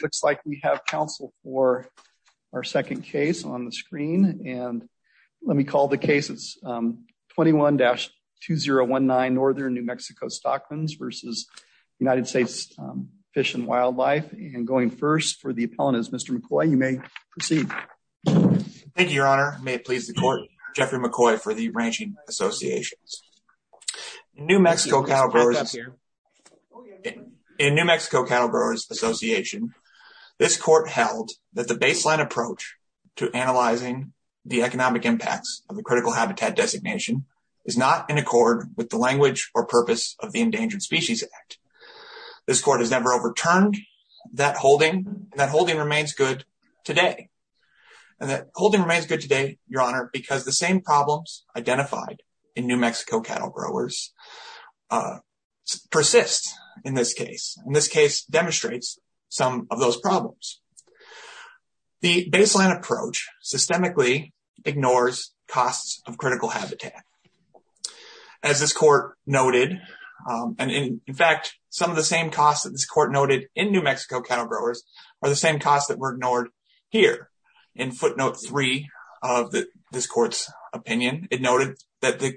Looks like we have counsel for our second case on the screen and let me call the cases 21-2019 Northern New Mexico Stockman's versus United States Fish and Wildlife and going first for the appellant is Mr. McCoy. You may proceed. Thank you your honor. May it please the court Jeffrey McCoy for the Ranching Associations. New Mexico Cattle Growers Association This court held that the baseline approach to analyzing the economic impacts of the critical habitat designation is not in accord with the language or purpose of the Endangered Species Act. This court has never overturned that holding. That holding remains good today and that holding remains good today your honor because the same problems identified in New Mexico cattle growers persist in this case. In this case demonstrates some of those problems. The baseline approach systemically ignores costs of critical habitat. As this court noted and in fact some of the same costs that this court noted in New Mexico cattle growers are the same costs that were ignored here. In footnote three of the this court's opinion it noted that the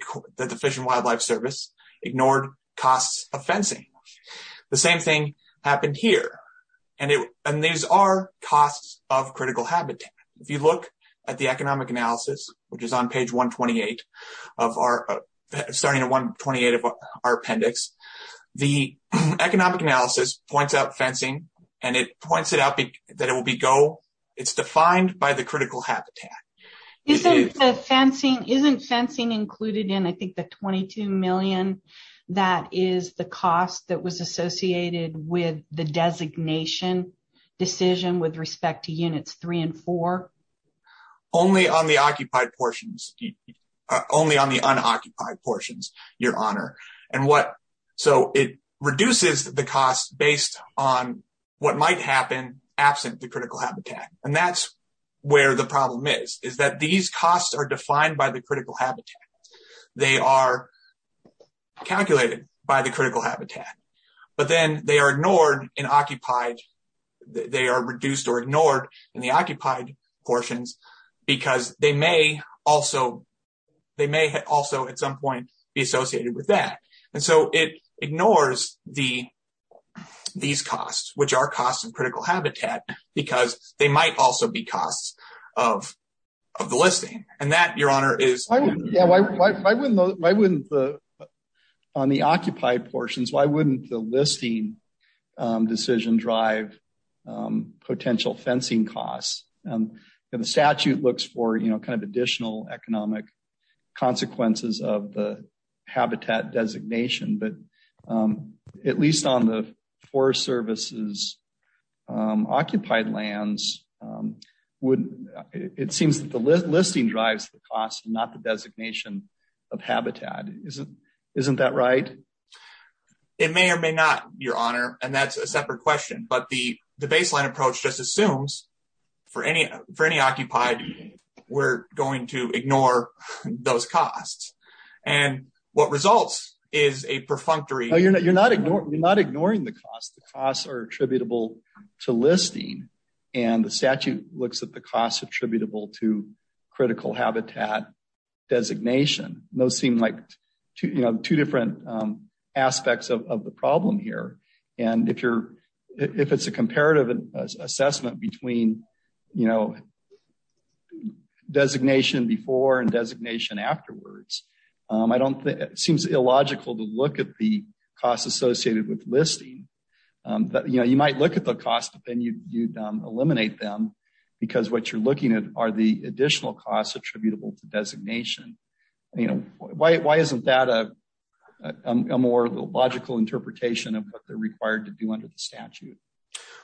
Wildlife Service ignored costs of fencing. The same thing happened here and it and these are costs of critical habitat. If you look at the economic analysis which is on page 128 of our starting at 128 of our appendix the economic analysis points out fencing and it points it out that it will be go. It's defined by the critical habitat. Isn't the fencing isn't fencing included in I think the 22 million that is the cost that was associated with the designation decision with respect to units three and four? Only on the occupied portions only on the unoccupied portions your honor and what so it reduces the cost based on what might happen absent the critical habitat and that's where the problem is is that these costs are defined by the critical habitat. They are calculated by the critical habitat but then they are ignored in occupied they are reduced or ignored in the occupied portions because they may also they may also at some point be associated with that and so it ignores the these costs which are costs of critical habitat because they might also be costs of of the listing and that your honor is yeah why why wouldn't why wouldn't the on the occupied portions why wouldn't the listing decision drive potential fencing costs and the statute looks for you know kind of additional economic consequences of the habitat designation but at least on the forest services occupied lands would it seems that the listing drives the cost not the designation of habitat isn't isn't that right? It may or may not your honor and that's a separate question but the the baseline approach just assumes for any for any occupied we're going to ignore those costs and what results is a perfunctory you're not you're not ignoring you're not ignoring the cost the costs are attributable to listing and the statute looks at the cost attributable to critical habitat designation those seem like you know two different aspects of the problem here and if you're if it's a comparative assessment between you know designation before and designation afterwards I don't think it seems illogical to look at the costs associated with listing that you know you might look at the cost but then you you'd eliminate them because what you're looking at are the additional costs attributable to designation you know why why isn't that a a more logical interpretation of what they're required to do under the statute?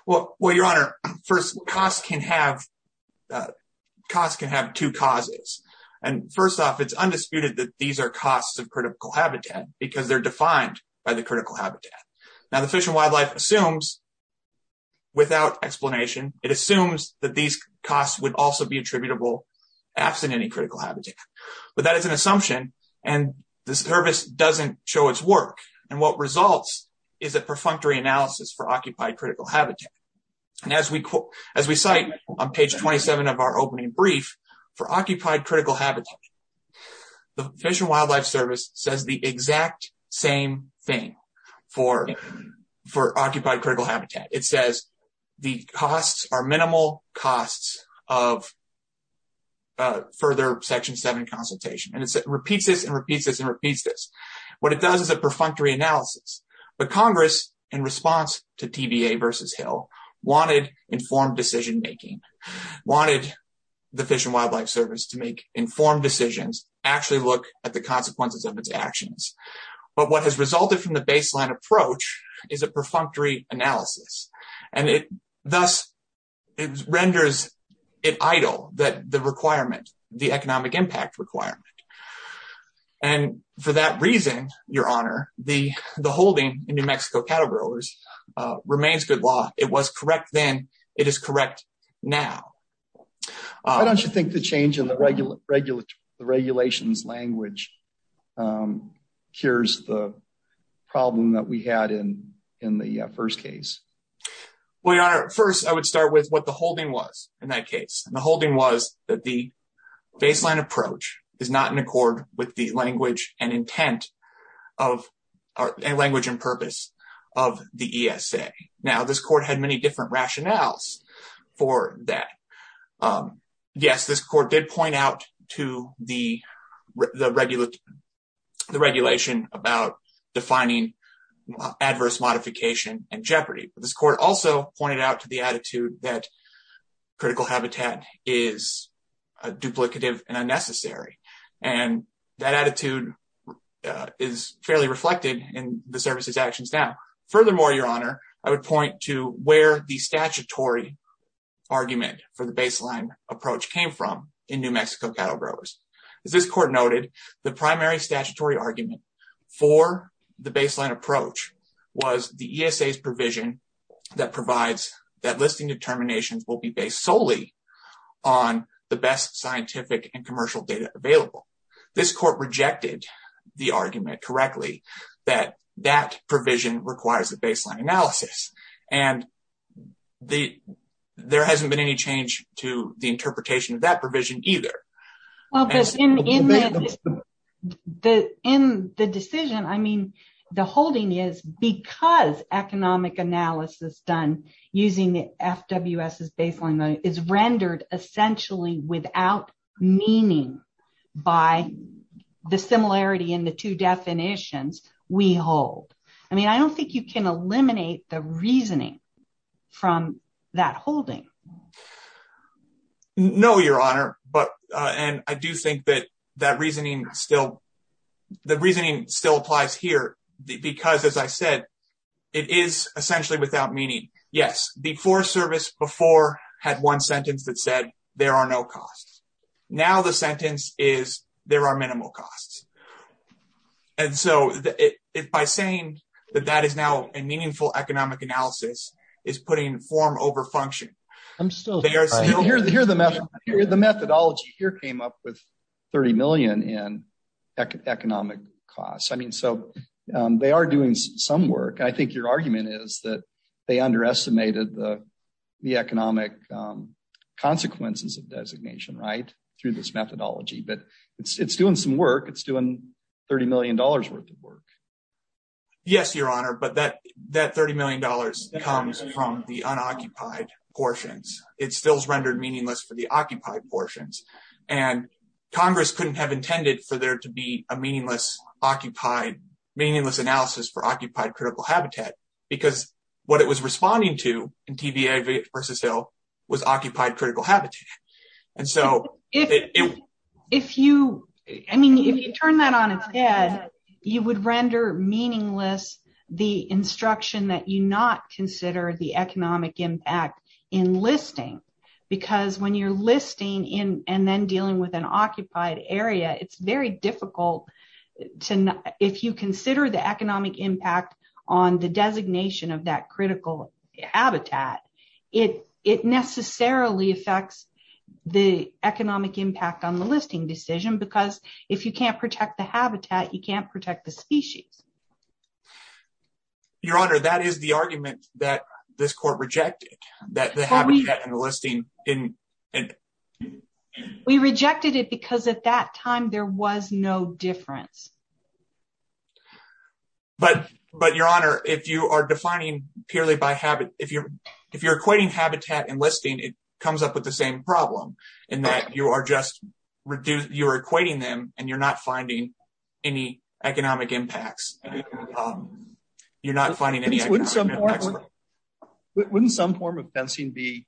Well well your honor first costs can have costs can have two causes and first off it's undisputed that these are costs of critical habitat because they're defined by the critical habitat now the fish and wildlife assumes without explanation it assumes that these costs would also be attributable absent any critical habitat but that is an assumption and the service doesn't show its work and what results is a perfunctory analysis for occupied critical habitat and as we quote as we cite on page 27 of our opening brief for occupied critical habitat the fish and wildlife service says the exact same thing for for occupied critical habitat it says the costs are minimal costs of further section 7 consultation and it repeats this and repeats and repeats this what it does is a perfunctory analysis but congress in response to tba versus hill wanted informed decision making wanted the fish and wildlife service to make informed decisions actually look at the consequences of its actions but what has resulted from the baseline approach is a perfunctory analysis and it thus it renders it idle that the requirement the economic impact requirement and for that reason your honor the the holding in new mexico cattle growers remains good law it was correct then it is correct now why don't you think the change in the regular regular the regulations language um cures the problem that we had in in the first case well your honor first i would start with what the holding was in that case and the holding was that the baseline approach is not in accord with the language and intent of our language and purpose of the esa now this court had many different rationales for that um yes this court did point out to the the regular the regulation about defining adverse modification and jeopardy this court also pointed out to the attitude that critical habitat is duplicative and unnecessary and that attitude is fairly reflected in the services actions now furthermore your honor i would point to where the statutory argument for the baseline approach came from in new mexico cattle growers as this court noted the primary statutory argument for the baseline approach was the esa's provision that provides that listing determinations will be based solely on the best scientific and commercial data available this court rejected the argument correctly that that provision requires the baseline analysis and the there hasn't been any change to the interpretation of that provision either well because in in the the in the decision i mean the holding is because economic analysis done using the fws's baseline is rendered essentially without meaning by the similarity in the two definitions we hold i mean i don't think you can eliminate the reasoning from that holding no your honor but uh and i do think that that reasoning still the reasoning still applies here because as i said it is essentially without meaning yes before service before had one sentence that said there are no costs now the sentence is there are minimal costs and so it by saying that that is now a meaningful economic analysis is putting form over function i'm still here here the method here the methodology here came up with 30 million in economic costs i mean so um they are doing some work i think your argument is that they underestimated the the economic um consequences of designation right through this methodology but it's it's doing some work it's doing 30 million dollars worth of work yes your honor but that that 30 million dollars comes from the unoccupied portions it stills rendered meaningless for the occupied portions and congress couldn't have intended for there to be a meaningless occupied meaningless analysis for occupied critical habitat because what it was responding to in tba versus hill was occupied critical habitat and so if if you i mean if you turn that on its head you would render meaningless the instruction that you not consider the economic impact in listing because when you're listing in and then dealing with an occupied area it's very difficult to if you consider the economic impact on the designation of that critical habitat it it necessarily affects the economic impact on the listing decision because if you can't protect the species your honor that is the argument that this court rejected that the habitat enlisting in we rejected it because at that time there was no difference but but your honor if you are defining purely by habit if you're if you're equating habitat enlisting it comes up with the same problem in that you are just reduced you're equating them and you're not finding any economic impacts you're not finding any wouldn't some form of fencing be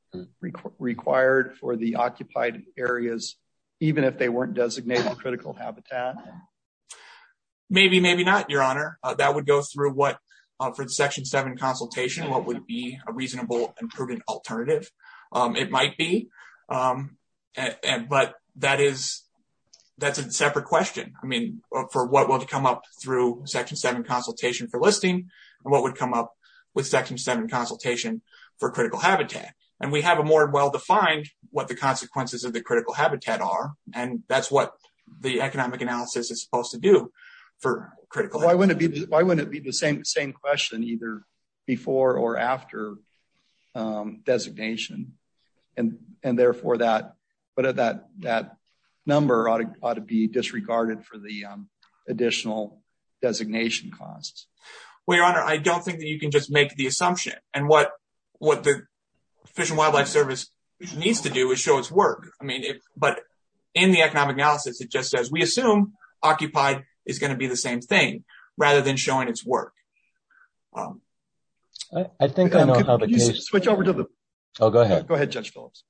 required for the occupied areas even if they weren't designated critical habitat maybe maybe not your honor that would go through what for the section 7 consultation what would be reasonable and proven alternative it might be but that is that's a separate question i mean for what will come up through section 7 consultation for listing and what would come up with section 7 consultation for critical habitat and we have a more well-defined what the consequences of the critical habitat are and that's what the economic analysis is supposed to do for critical why why wouldn't it be the same same question either before or after designation and and therefore that but at that that number ought to be disregarded for the additional designation costs well your honor i don't think that you can just make the assumption and what what the fish and wildlife service needs to do is show its work i mean but in the economic analysis it just says we assume occupied is going to be the same thing rather than showing its work i think i know how the case switch over to the oh go ahead go ahead judge phillips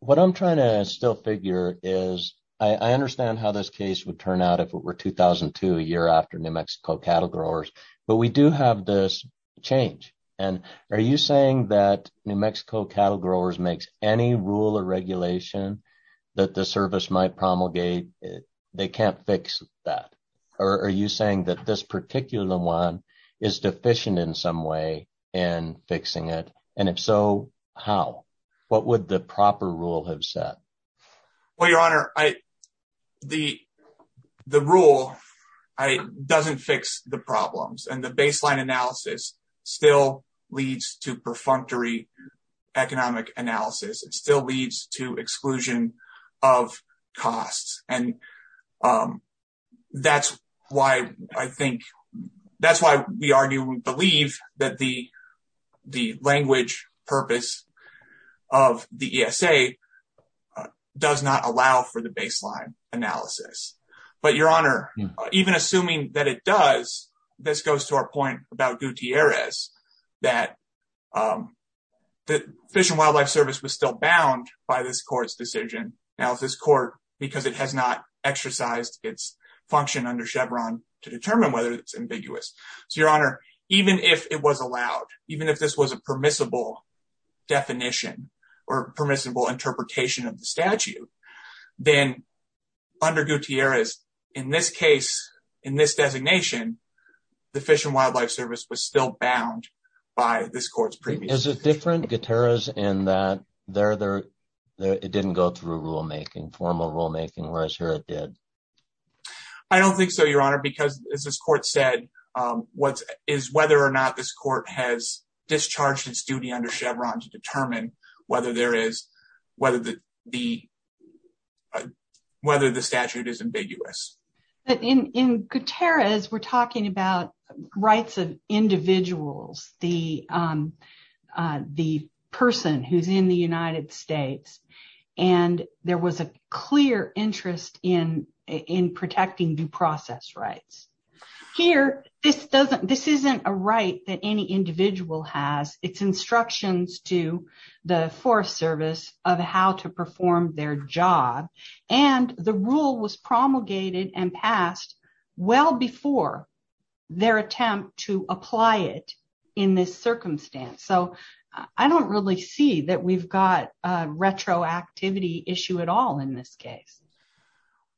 what i'm trying to still figure is i i understand how this case would turn out if it were 2002 a year after new mexico cattle growers but we do have this change and are you saying that mexico cattle growers makes any rule or regulation that the service might promulgate they can't fix that or are you saying that this particular one is deficient in some way in fixing it and if so how what would the proper rule have said well your honor i the the rule i doesn't fix the problems and the baseline analysis still leads to perfunctory economic analysis it still leads to exclusion of costs and um that's why i think that's why we argue we believe that the the language purpose of the esa does not allow for the baseline analysis but your honor even assuming that it does this goes to our point about gutierrez that um the fish and wildlife service was still bound by this court's decision now this court because it has not exercised its function under chevron to determine whether it's so your honor even if it was allowed even if this was a permissible definition or permissible interpretation of the statute then under gutierrez in this case in this designation the fish and wildlife service was still bound by this court's previous is it different gutierrez in that they're there it didn't go through rulemaking formal rulemaking whereas here it did i don't think so your honor because as this court said um what is whether or not this court has discharged its duty under chevron to determine whether there is whether the the whether the statute is ambiguous but in in gutierrez we're talking about rights of individuals the um the person who's in the united states and there was a clear interest in in protecting due process rights here this doesn't this isn't a right that any individual has it's instructions to the forest service of how to perform their job and the rule was promulgated and passed well before their attempt to apply it in this circumstance so i don't really see that we've got a retroactivity issue at all in this case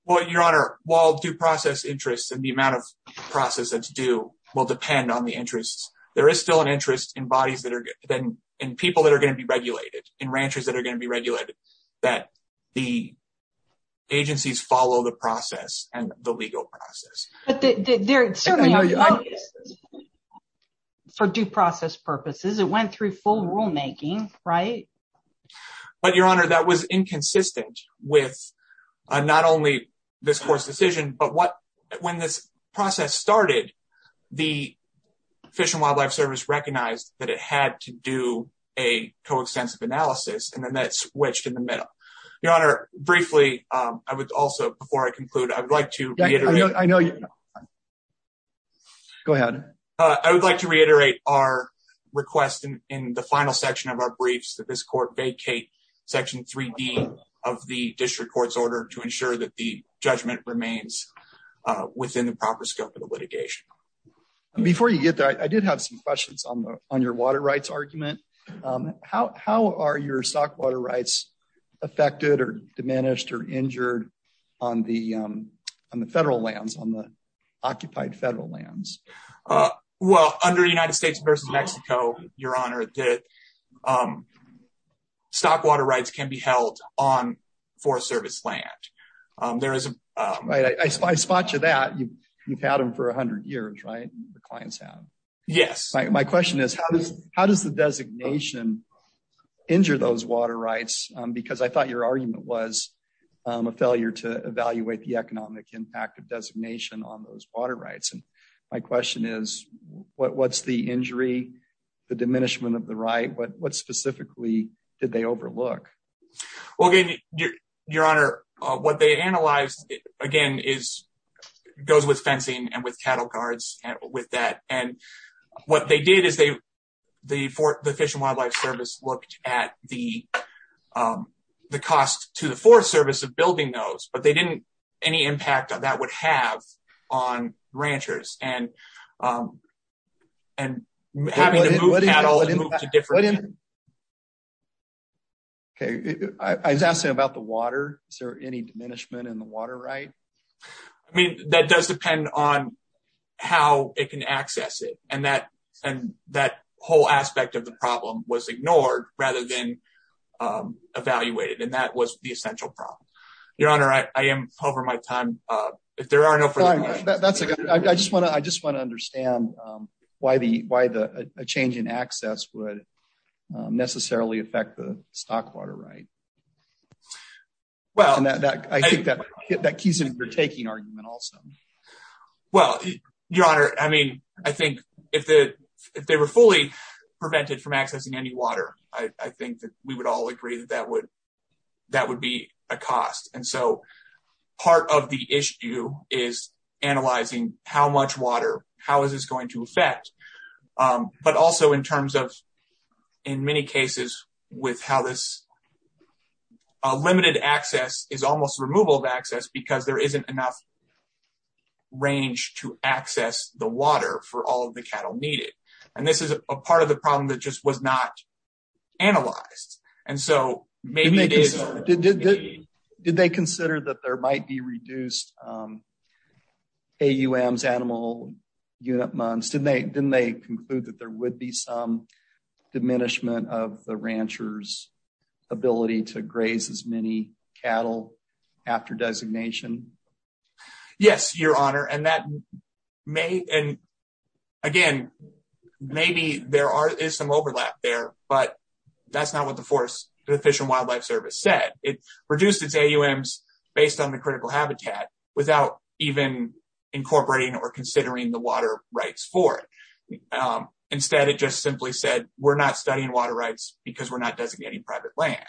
well your honor while due process interests and the amount of process that's due will depend on the interests there is still an interest in bodies that are then in people that are going to be regulated in ranchers that are going to be but they're certainly for due process purposes it went through full rulemaking right but your honor that was inconsistent with not only this court's decision but what when this process started the fish and wildlife service recognized that it had to do a coextensive analysis and then that switched in the year go ahead i would like to reiterate our request in the final section of our briefs that this court vacate section 3d of the district court's order to ensure that the judgment remains within the proper scope of the litigation before you get there i did have some questions on the on your water rights argument um how how are your stock water rights affected or diminished or occupied federal lands uh well under united states versus mexico your honor that um stock water rights can be held on forest service land um there is a right i i spot you that you you've had them for 100 years right the clients have yes my question is how does how does the designation injure those water rights because i thought your argument was a failure to evaluate the economic impact of designation on those water rights and my question is what what's the injury the diminishment of the right what what specifically did they overlook well your your honor what they analyzed again is goes with fencing and with cattle guards and with that and what they did is they the for the fish and wildlife service looked at the um the cost to forest service of building those but they didn't any impact that would have on ranchers and um and having to move cattle to different okay i was asking about the water is there any diminishment in the water right i mean that does depend on how it can access it and that and that whole aspect of the problem was ignored rather than um evaluated and that was the essential problem your honor i i am over my time uh if there are no that's a good i just want to i just want to understand um why the why the a change in access would necessarily affect the stock water right well and that i think that that keys in your taking argument also well your honor i mean i think if the if they were fully prevented from accessing any water i i think that we would all agree that that would that would be a cost and so part of the issue is analyzing how much water how is this going to affect um but also in terms of in many cases with how this limited access is almost removal of access because there isn't enough range to access the water for all of the cattle needed and this is a part of the problem that just was not analyzed and so maybe it is did they consider that there might be reduced um aum's animal unit months didn't they didn't they conclude that there would be some diminishment of the ranchers ability to graze as many cattle after designation yes your honor and that may and again maybe there are is some overlap there but that's not what the forest the fish and wildlife service said it reduced its aums based on the critical habitat without even incorporating or considering the water rights for it um instead it just simply said we're not studying water rights because we're not designating private land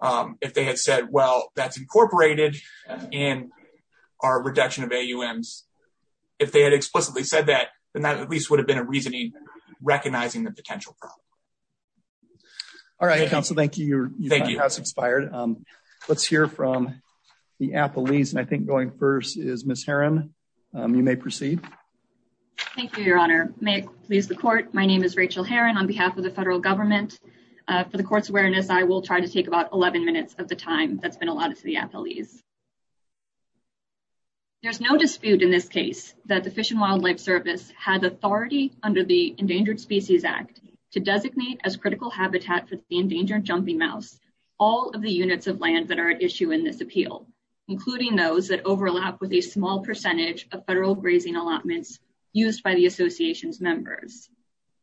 um if they had said well that's incorporated in our reduction of aums if they had explicitly said that then that at least would have been a reasoning recognizing the potential problem all right council thank you your thank you house expired um let's hear from the apolis and i think going first is miss on behalf of the federal government uh for the court's awareness i will try to take about 11 minutes of the time that's been allotted to the apolis there's no dispute in this case that the fish and wildlife service had authority under the endangered species act to designate as critical habitat for the endangered jumping mouse all of the units of land that are at issue in this appeal including those that overlap with a small percentage of federal grazing allotments used by the association's members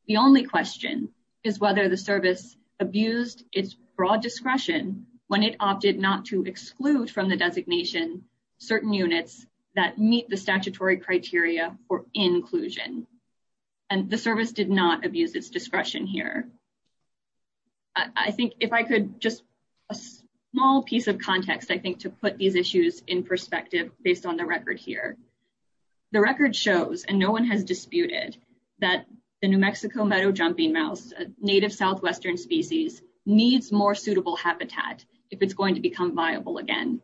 the only question is whether the service abused its broad discretion when it opted not to exclude from the designation certain units that meet the statutory criteria for inclusion and the service did not abuse its discretion here i think if i could just a small piece of context i think to put these issues in perspective based on the record here the record shows and no one has disputed that the new mexico meadow jumping mouse native southwestern species needs more suitable habitat if it's going to become viable again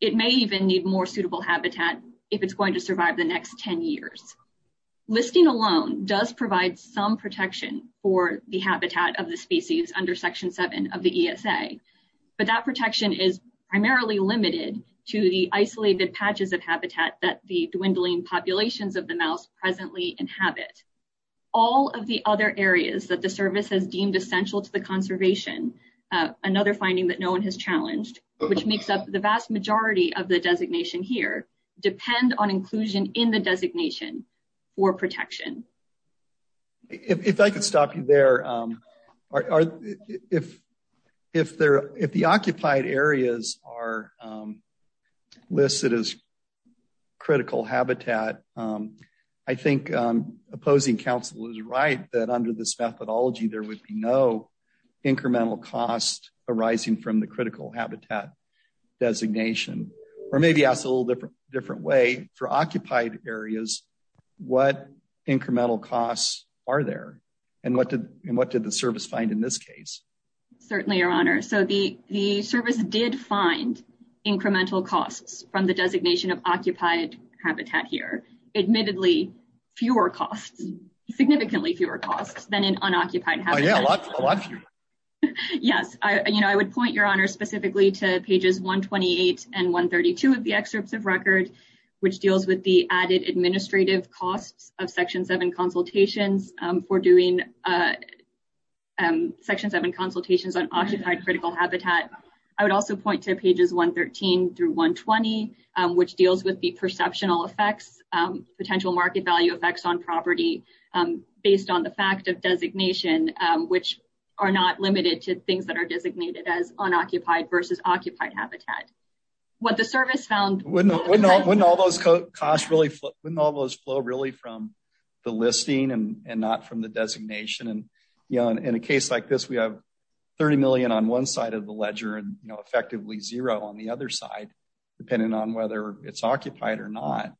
it may even need more suitable habitat if it's going to survive the next 10 years listing alone does provide some protection for the habitat of the species under section 7 of but that protection is primarily limited to the isolated patches of habitat that the dwindling populations of the mouse presently inhabit all of the other areas that the service has deemed essential to the conservation another finding that no one has challenged which makes up the vast majority of the designation here depend on inclusion in the designation or protection if i could stop you there um are if if they're if the occupied areas are um listed as critical habitat um i think um opposing council is right that under this methodology there would be no incremental cost arising from the critical habitat designation or maybe ask a little different way for occupied areas what incremental costs are there and what did and what did the service find in this case certainly your honor so the the service did find incremental costs from the designation of occupied habitat here admittedly fewer costs significantly fewer costs than in unoccupied habitat yeah a lot a lot fewer yes i you know i would point your honor specifically to pages 128 and 132 of the excerpts of record which deals with the added administrative costs of section 7 consultations um for doing uh um section 7 consultations on occupied critical habitat i would also point to pages 113 through 120 which deals with the perceptional effects um potential market value effects on property um based on the fact of versus occupied habitat what the service found wouldn't wouldn't all those costs really wouldn't all those flow really from the listing and and not from the designation and you know in a case like this we have 30 million on one side of the ledger and you know effectively zero on the other side depending on whether it's occupied or not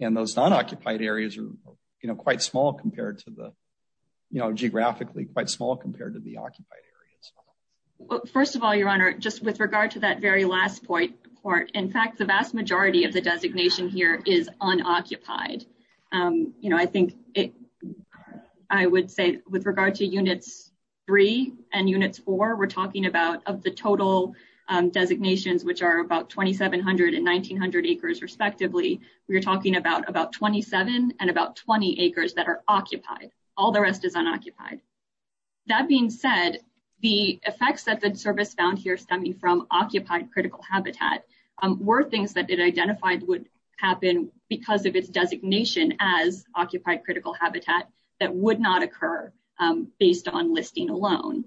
and those non-occupied areas are you know quite small compared to the you know geographically quite small compared to the occupied areas first of all your honor just with regard to that very last point court in fact the vast majority of the designation here is unoccupied um you know i think it i would say with regard to units three and units four we're talking about of the total um designations which are about 2700 and 1900 acres respectively we're talking about about 27 and about 20 acres that are occupied all the rest is unoccupied that being said the effects that the service found here stemming from occupied critical habitat were things that it identified would happen because of its designation as occupied critical habitat that would not occur based on listing alone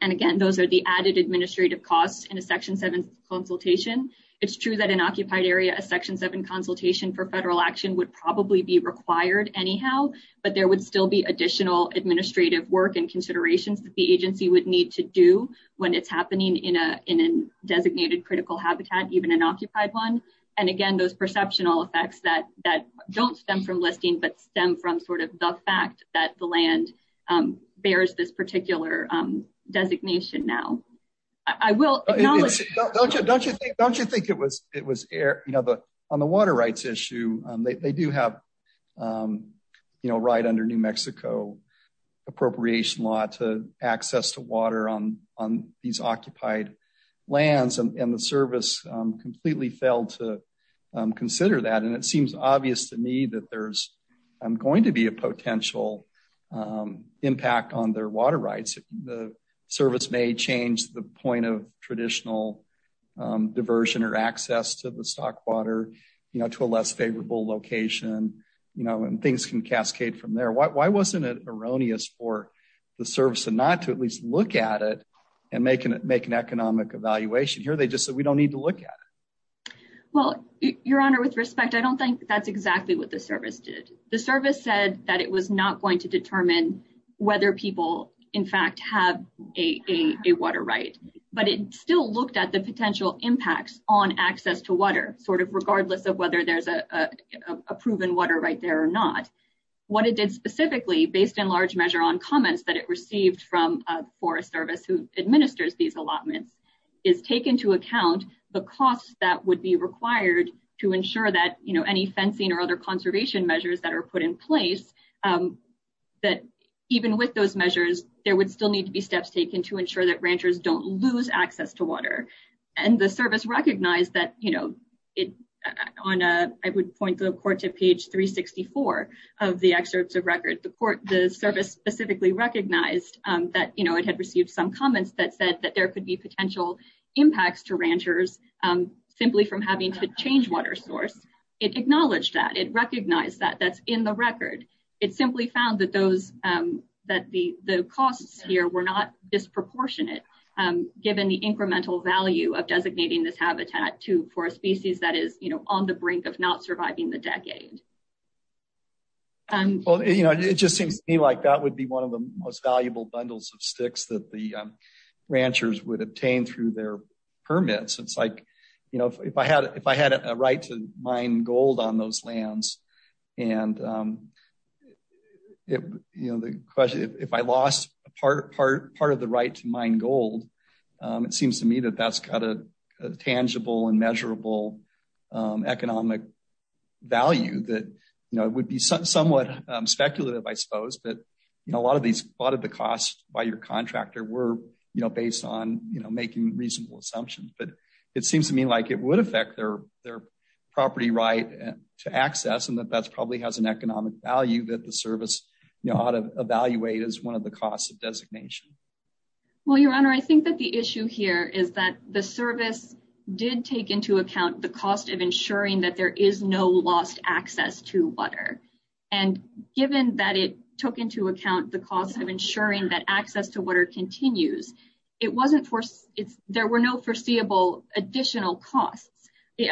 and again those are the added administrative costs in a section 7 consultation it's true that an occupied area a section 7 consultation for federal action would probably be required anyhow but there would still be additional administrative work and considerations that the agency would need to do when it's happening in a in a designated critical habitat even an occupied one and again those perceptional effects that that don't stem from listing but stem from sort of the fact that the land um bears this particular um designation now i will acknowledge don't you don't you think don't you think it was it was air you know the on the water rights issue um they do have um you know right under new mexico appropriation law to access to water on on these occupied lands and the service completely failed to consider that and it seems obvious to me that there's i'm going to be a potential impact on their water rights the service may change the point of traditional diversion or access to the stock water you know to a less favorable location you know and things can cascade from there why wasn't it erroneous for the service and not to at least look at it and making it make an economic evaluation here they just said we don't need to look at it well your honor with respect i don't think that's exactly what the service did the service said that it was not going to determine whether people in fact have a a water right but it still looked at the potential impacts on access to water sort of regardless of whether there's a a proven water right there or not what it did specifically based in large measure on comments that it received from a forest service who administers these allotments is taken to account the costs that would be required to ensure that you know any fencing or other conservation measures that are put in place that even with those measures there would still need to be steps taken to ensure that ranchers don't lose access to water and the service recognized that you know it on a i would point the court to page 364 of the excerpts of record the court the service specifically recognized um that you know it had received some comments that said that there could be potential impacts to ranchers um simply from having to change water source it acknowledged that it recognized that that's in the record it simply found that those um that the the costs here were not disproportionate um given the incremental value of designating this habitat to for a species that is you know on the brink of not surviving the decade um well you know it just seems to me like that would be one of the most valuable bundles of sticks that the ranchers would obtain through their permits it's like you know if i had if to mine gold on those lands and um it you know the question if i lost a part part part of the right to mine gold um it seems to me that that's got a tangible and measurable um economic value that you know it would be somewhat speculative i suppose but you know a lot of these a lot of the costs by your contractor were you know based on you know making reasonable assumptions but it seems to me like it would affect their their property right to access and that that's probably has an economic value that the service you know how to evaluate is one of the costs of designation well your honor i think that the issue here is that the service did take into account the cost of ensuring that there is no lost access to water and given that it took into account the cost of additional costs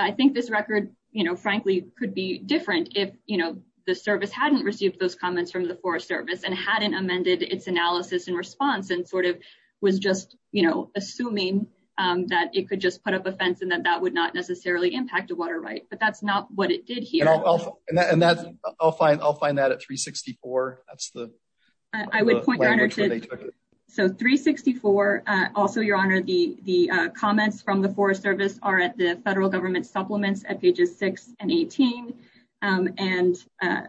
i think this record you know frankly could be different if you know the service hadn't received those comments from the forest service and hadn't amended its analysis and response and sort of was just you know assuming um that it could just put up a fence and that that would not necessarily impact a water right but that's not what it did here and that's i'll find i'll find that at 364 that's the i would point out so 364 uh also your honor the the uh service are at the federal government supplements at pages 6 and 18 um and uh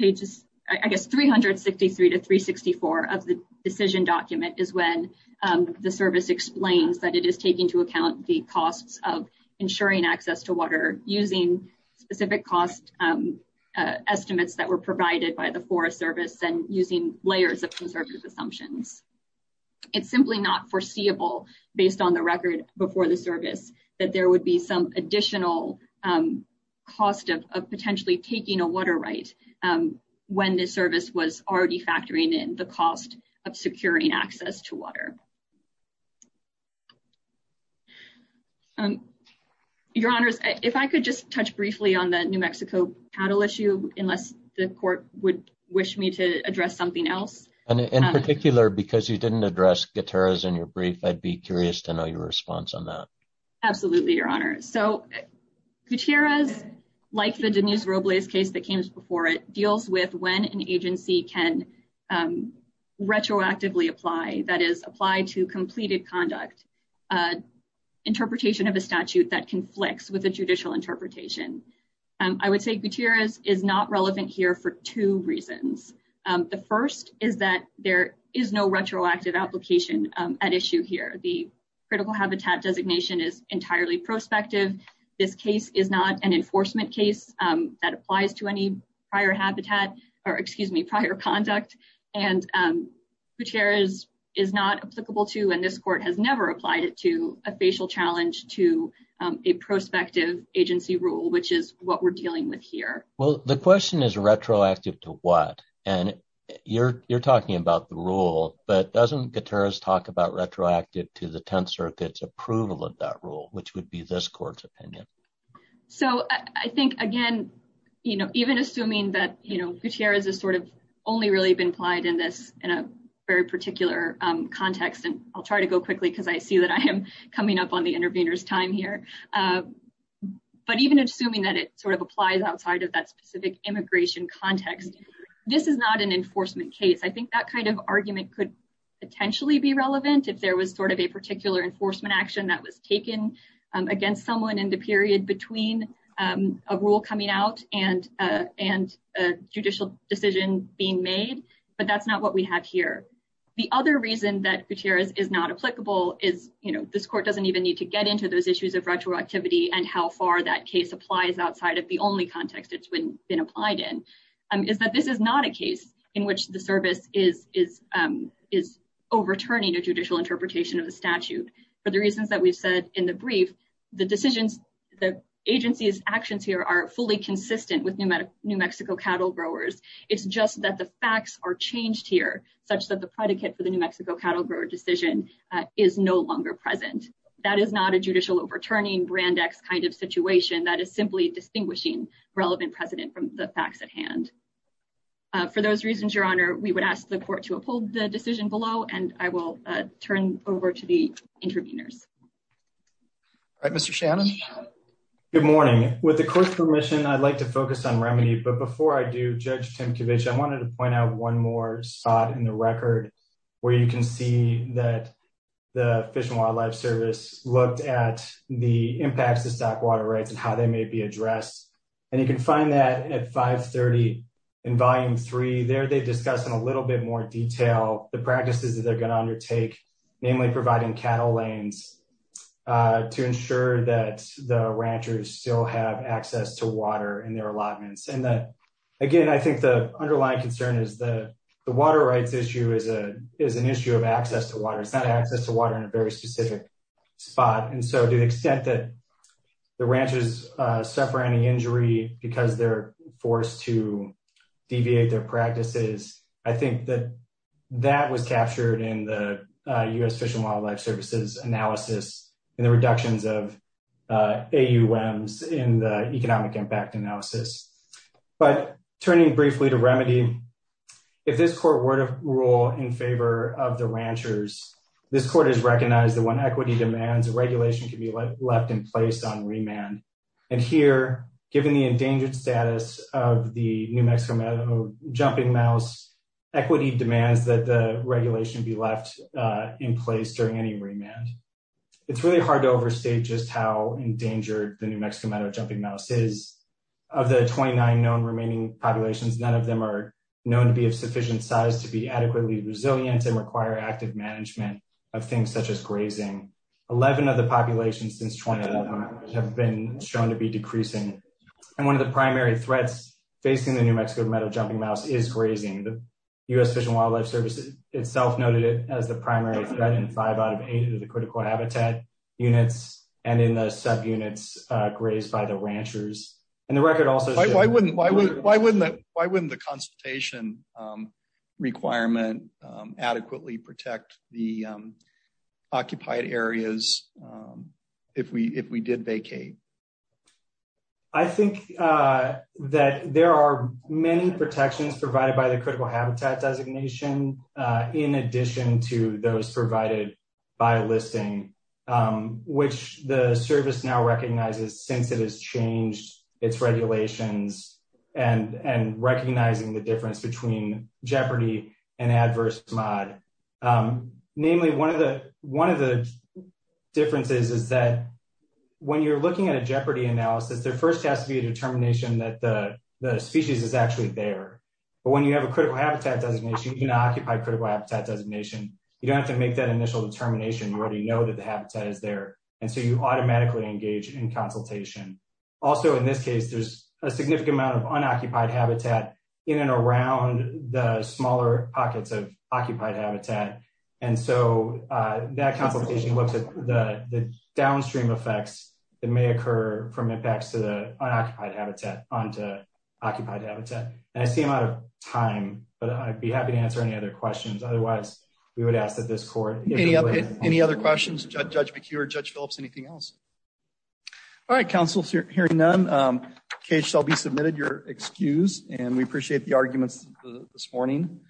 pages i guess 363 to 364 of the decision document is when um the service explains that it is taking to account the costs of ensuring access to water using specific cost um estimates that were provided by the forest service and using layers of conservative assumptions it's simply not based on the record before the service that there would be some additional um cost of potentially taking a water right um when this service was already factoring in the cost of securing access to water um your honors if i could just touch briefly on the new mexico cattle issue unless the court would wish me to address something else and in particular because you didn't address guitars in your brief i'd be curious to know your response on that absolutely your honor so gutierrez like the denise robles case that came before it deals with when an agency can um retroactively apply that is applied to completed conduct uh interpretation of a statute that conflicts with a judicial interpretation um i would say gutierrez is not relevant here for two reasons um the first is that there is no retroactive application um at issue here the critical habitat designation is entirely prospective this case is not an enforcement case um that applies to any prior habitat or excuse me prior conduct and um gutierrez is not applicable to and this court has never applied it to a facial challenge to a prospective agency rule which is what we're dealing with here well the question is retroactive to what and you're you're talking about the rule but doesn't gutierrez talk about retroactive to the 10th circuit's approval of that rule which would be this court's opinion so i think again you know even assuming that you know gutierrez is sort of only really been applied in this in a very particular um context and i'll try to go quickly because i see that i am coming up on the intervener's time here uh but even assuming that it sort of applies outside of that specific immigration context this is not an enforcement case i think that kind of argument could potentially be relevant if there was sort of a particular enforcement action that was taken against someone in the period between um a rule coming out and uh and a judicial decision being made but that's not what we have here the other reason that gutierrez is not applicable is you know this court doesn't even need to get into those issues of retroactivity and how far that case applies outside of the only context it's been applied in um is that this is not a case in which the service is is um is overturning a judicial interpretation of the statute for the reasons that we've said in the brief the decisions the agency's actions here are fully consistent with new mexico cattle growers it's just that the facts are changed here such that the predicate for the new mexico cattle decision is no longer present that is not a judicial overturning brand x kind of situation that is simply distinguishing relevant precedent from the facts at hand for those reasons your honor we would ask the court to uphold the decision below and i will turn over to the interveners all right mr shannon good morning with the court's permission i'd like to focus on remedy but before i do judge tim kovich i wanted to point out one more spot in the record where you can see that the fish and wildlife service looked at the impacts of stock water rights and how they may be addressed and you can find that at 5 30 in volume 3 there they discuss in a little bit more detail the practices that they're going to undertake namely providing cattle lanes to ensure that the ranchers still have access to water in their allotments and that again i think the underlying concern is the the water rights issue is a is an issue of access to water it's not access to water in a very specific spot and so to the extent that the ranches suffer any injury because they're forced to deviate their practices i think that that was captured in the u.s fish and wildlife services analysis and the reductions of uh aums in the economic impact analysis but turning briefly to remedy if this court were to rule in favor of the ranchers this court has recognized that when equity demands a regulation can be left in place on remand and here given the endangered status of the new mexico meadow jumping mouse equity demands that the regulation be left uh in place during any remand it's really hard to overstate just how endangered the new mexico meadow jumping mouse is of the 29 known remaining populations none of them are known to be of sufficient size to be adequately resilient and require active management of things such as grazing 11 of the populations since 2011 have been shown to be decreasing and one of the primary threats facing the new mexico meadow jumping mouse is grazing the u.s fish and wildlife services itself noted it as the primary threat in five out of eight of the critical habitat units and in the subunits uh grazed by the ranchers and the record also why wouldn't why wouldn't why wouldn't that why wouldn't the consultation um requirement um adequately protect the um occupied areas um if we if we did vacate i think uh that there are many protections provided by the critical habitat designation uh in addition to those provided by listing um which the service now recognizes since it has changed its regulations and and recognizing the difference between jeopardy and adverse mod um namely one of the one of the differences is that when you're looking at a jeopardy analysis there first has to be a determination that the species is actually there but when you have a critical habitat designation you can occupy critical habitat designation you don't have to make that initial determination you already know that the habitat is there and so you automatically engage in consultation also in this case there's a significant amount of unoccupied habitat in and around the smaller pockets of occupied habitat and so uh that consultation looks at the the downstream effects that may occur from impacts to the unoccupied habitat onto occupied habitat and i see i'm out of time but i'd be happy to answer any other questions otherwise we would ask that this court any other questions judge mcure judge phillips anything else all right council hearing none um case shall be submitted your excuse and we appreciate the arguments this morning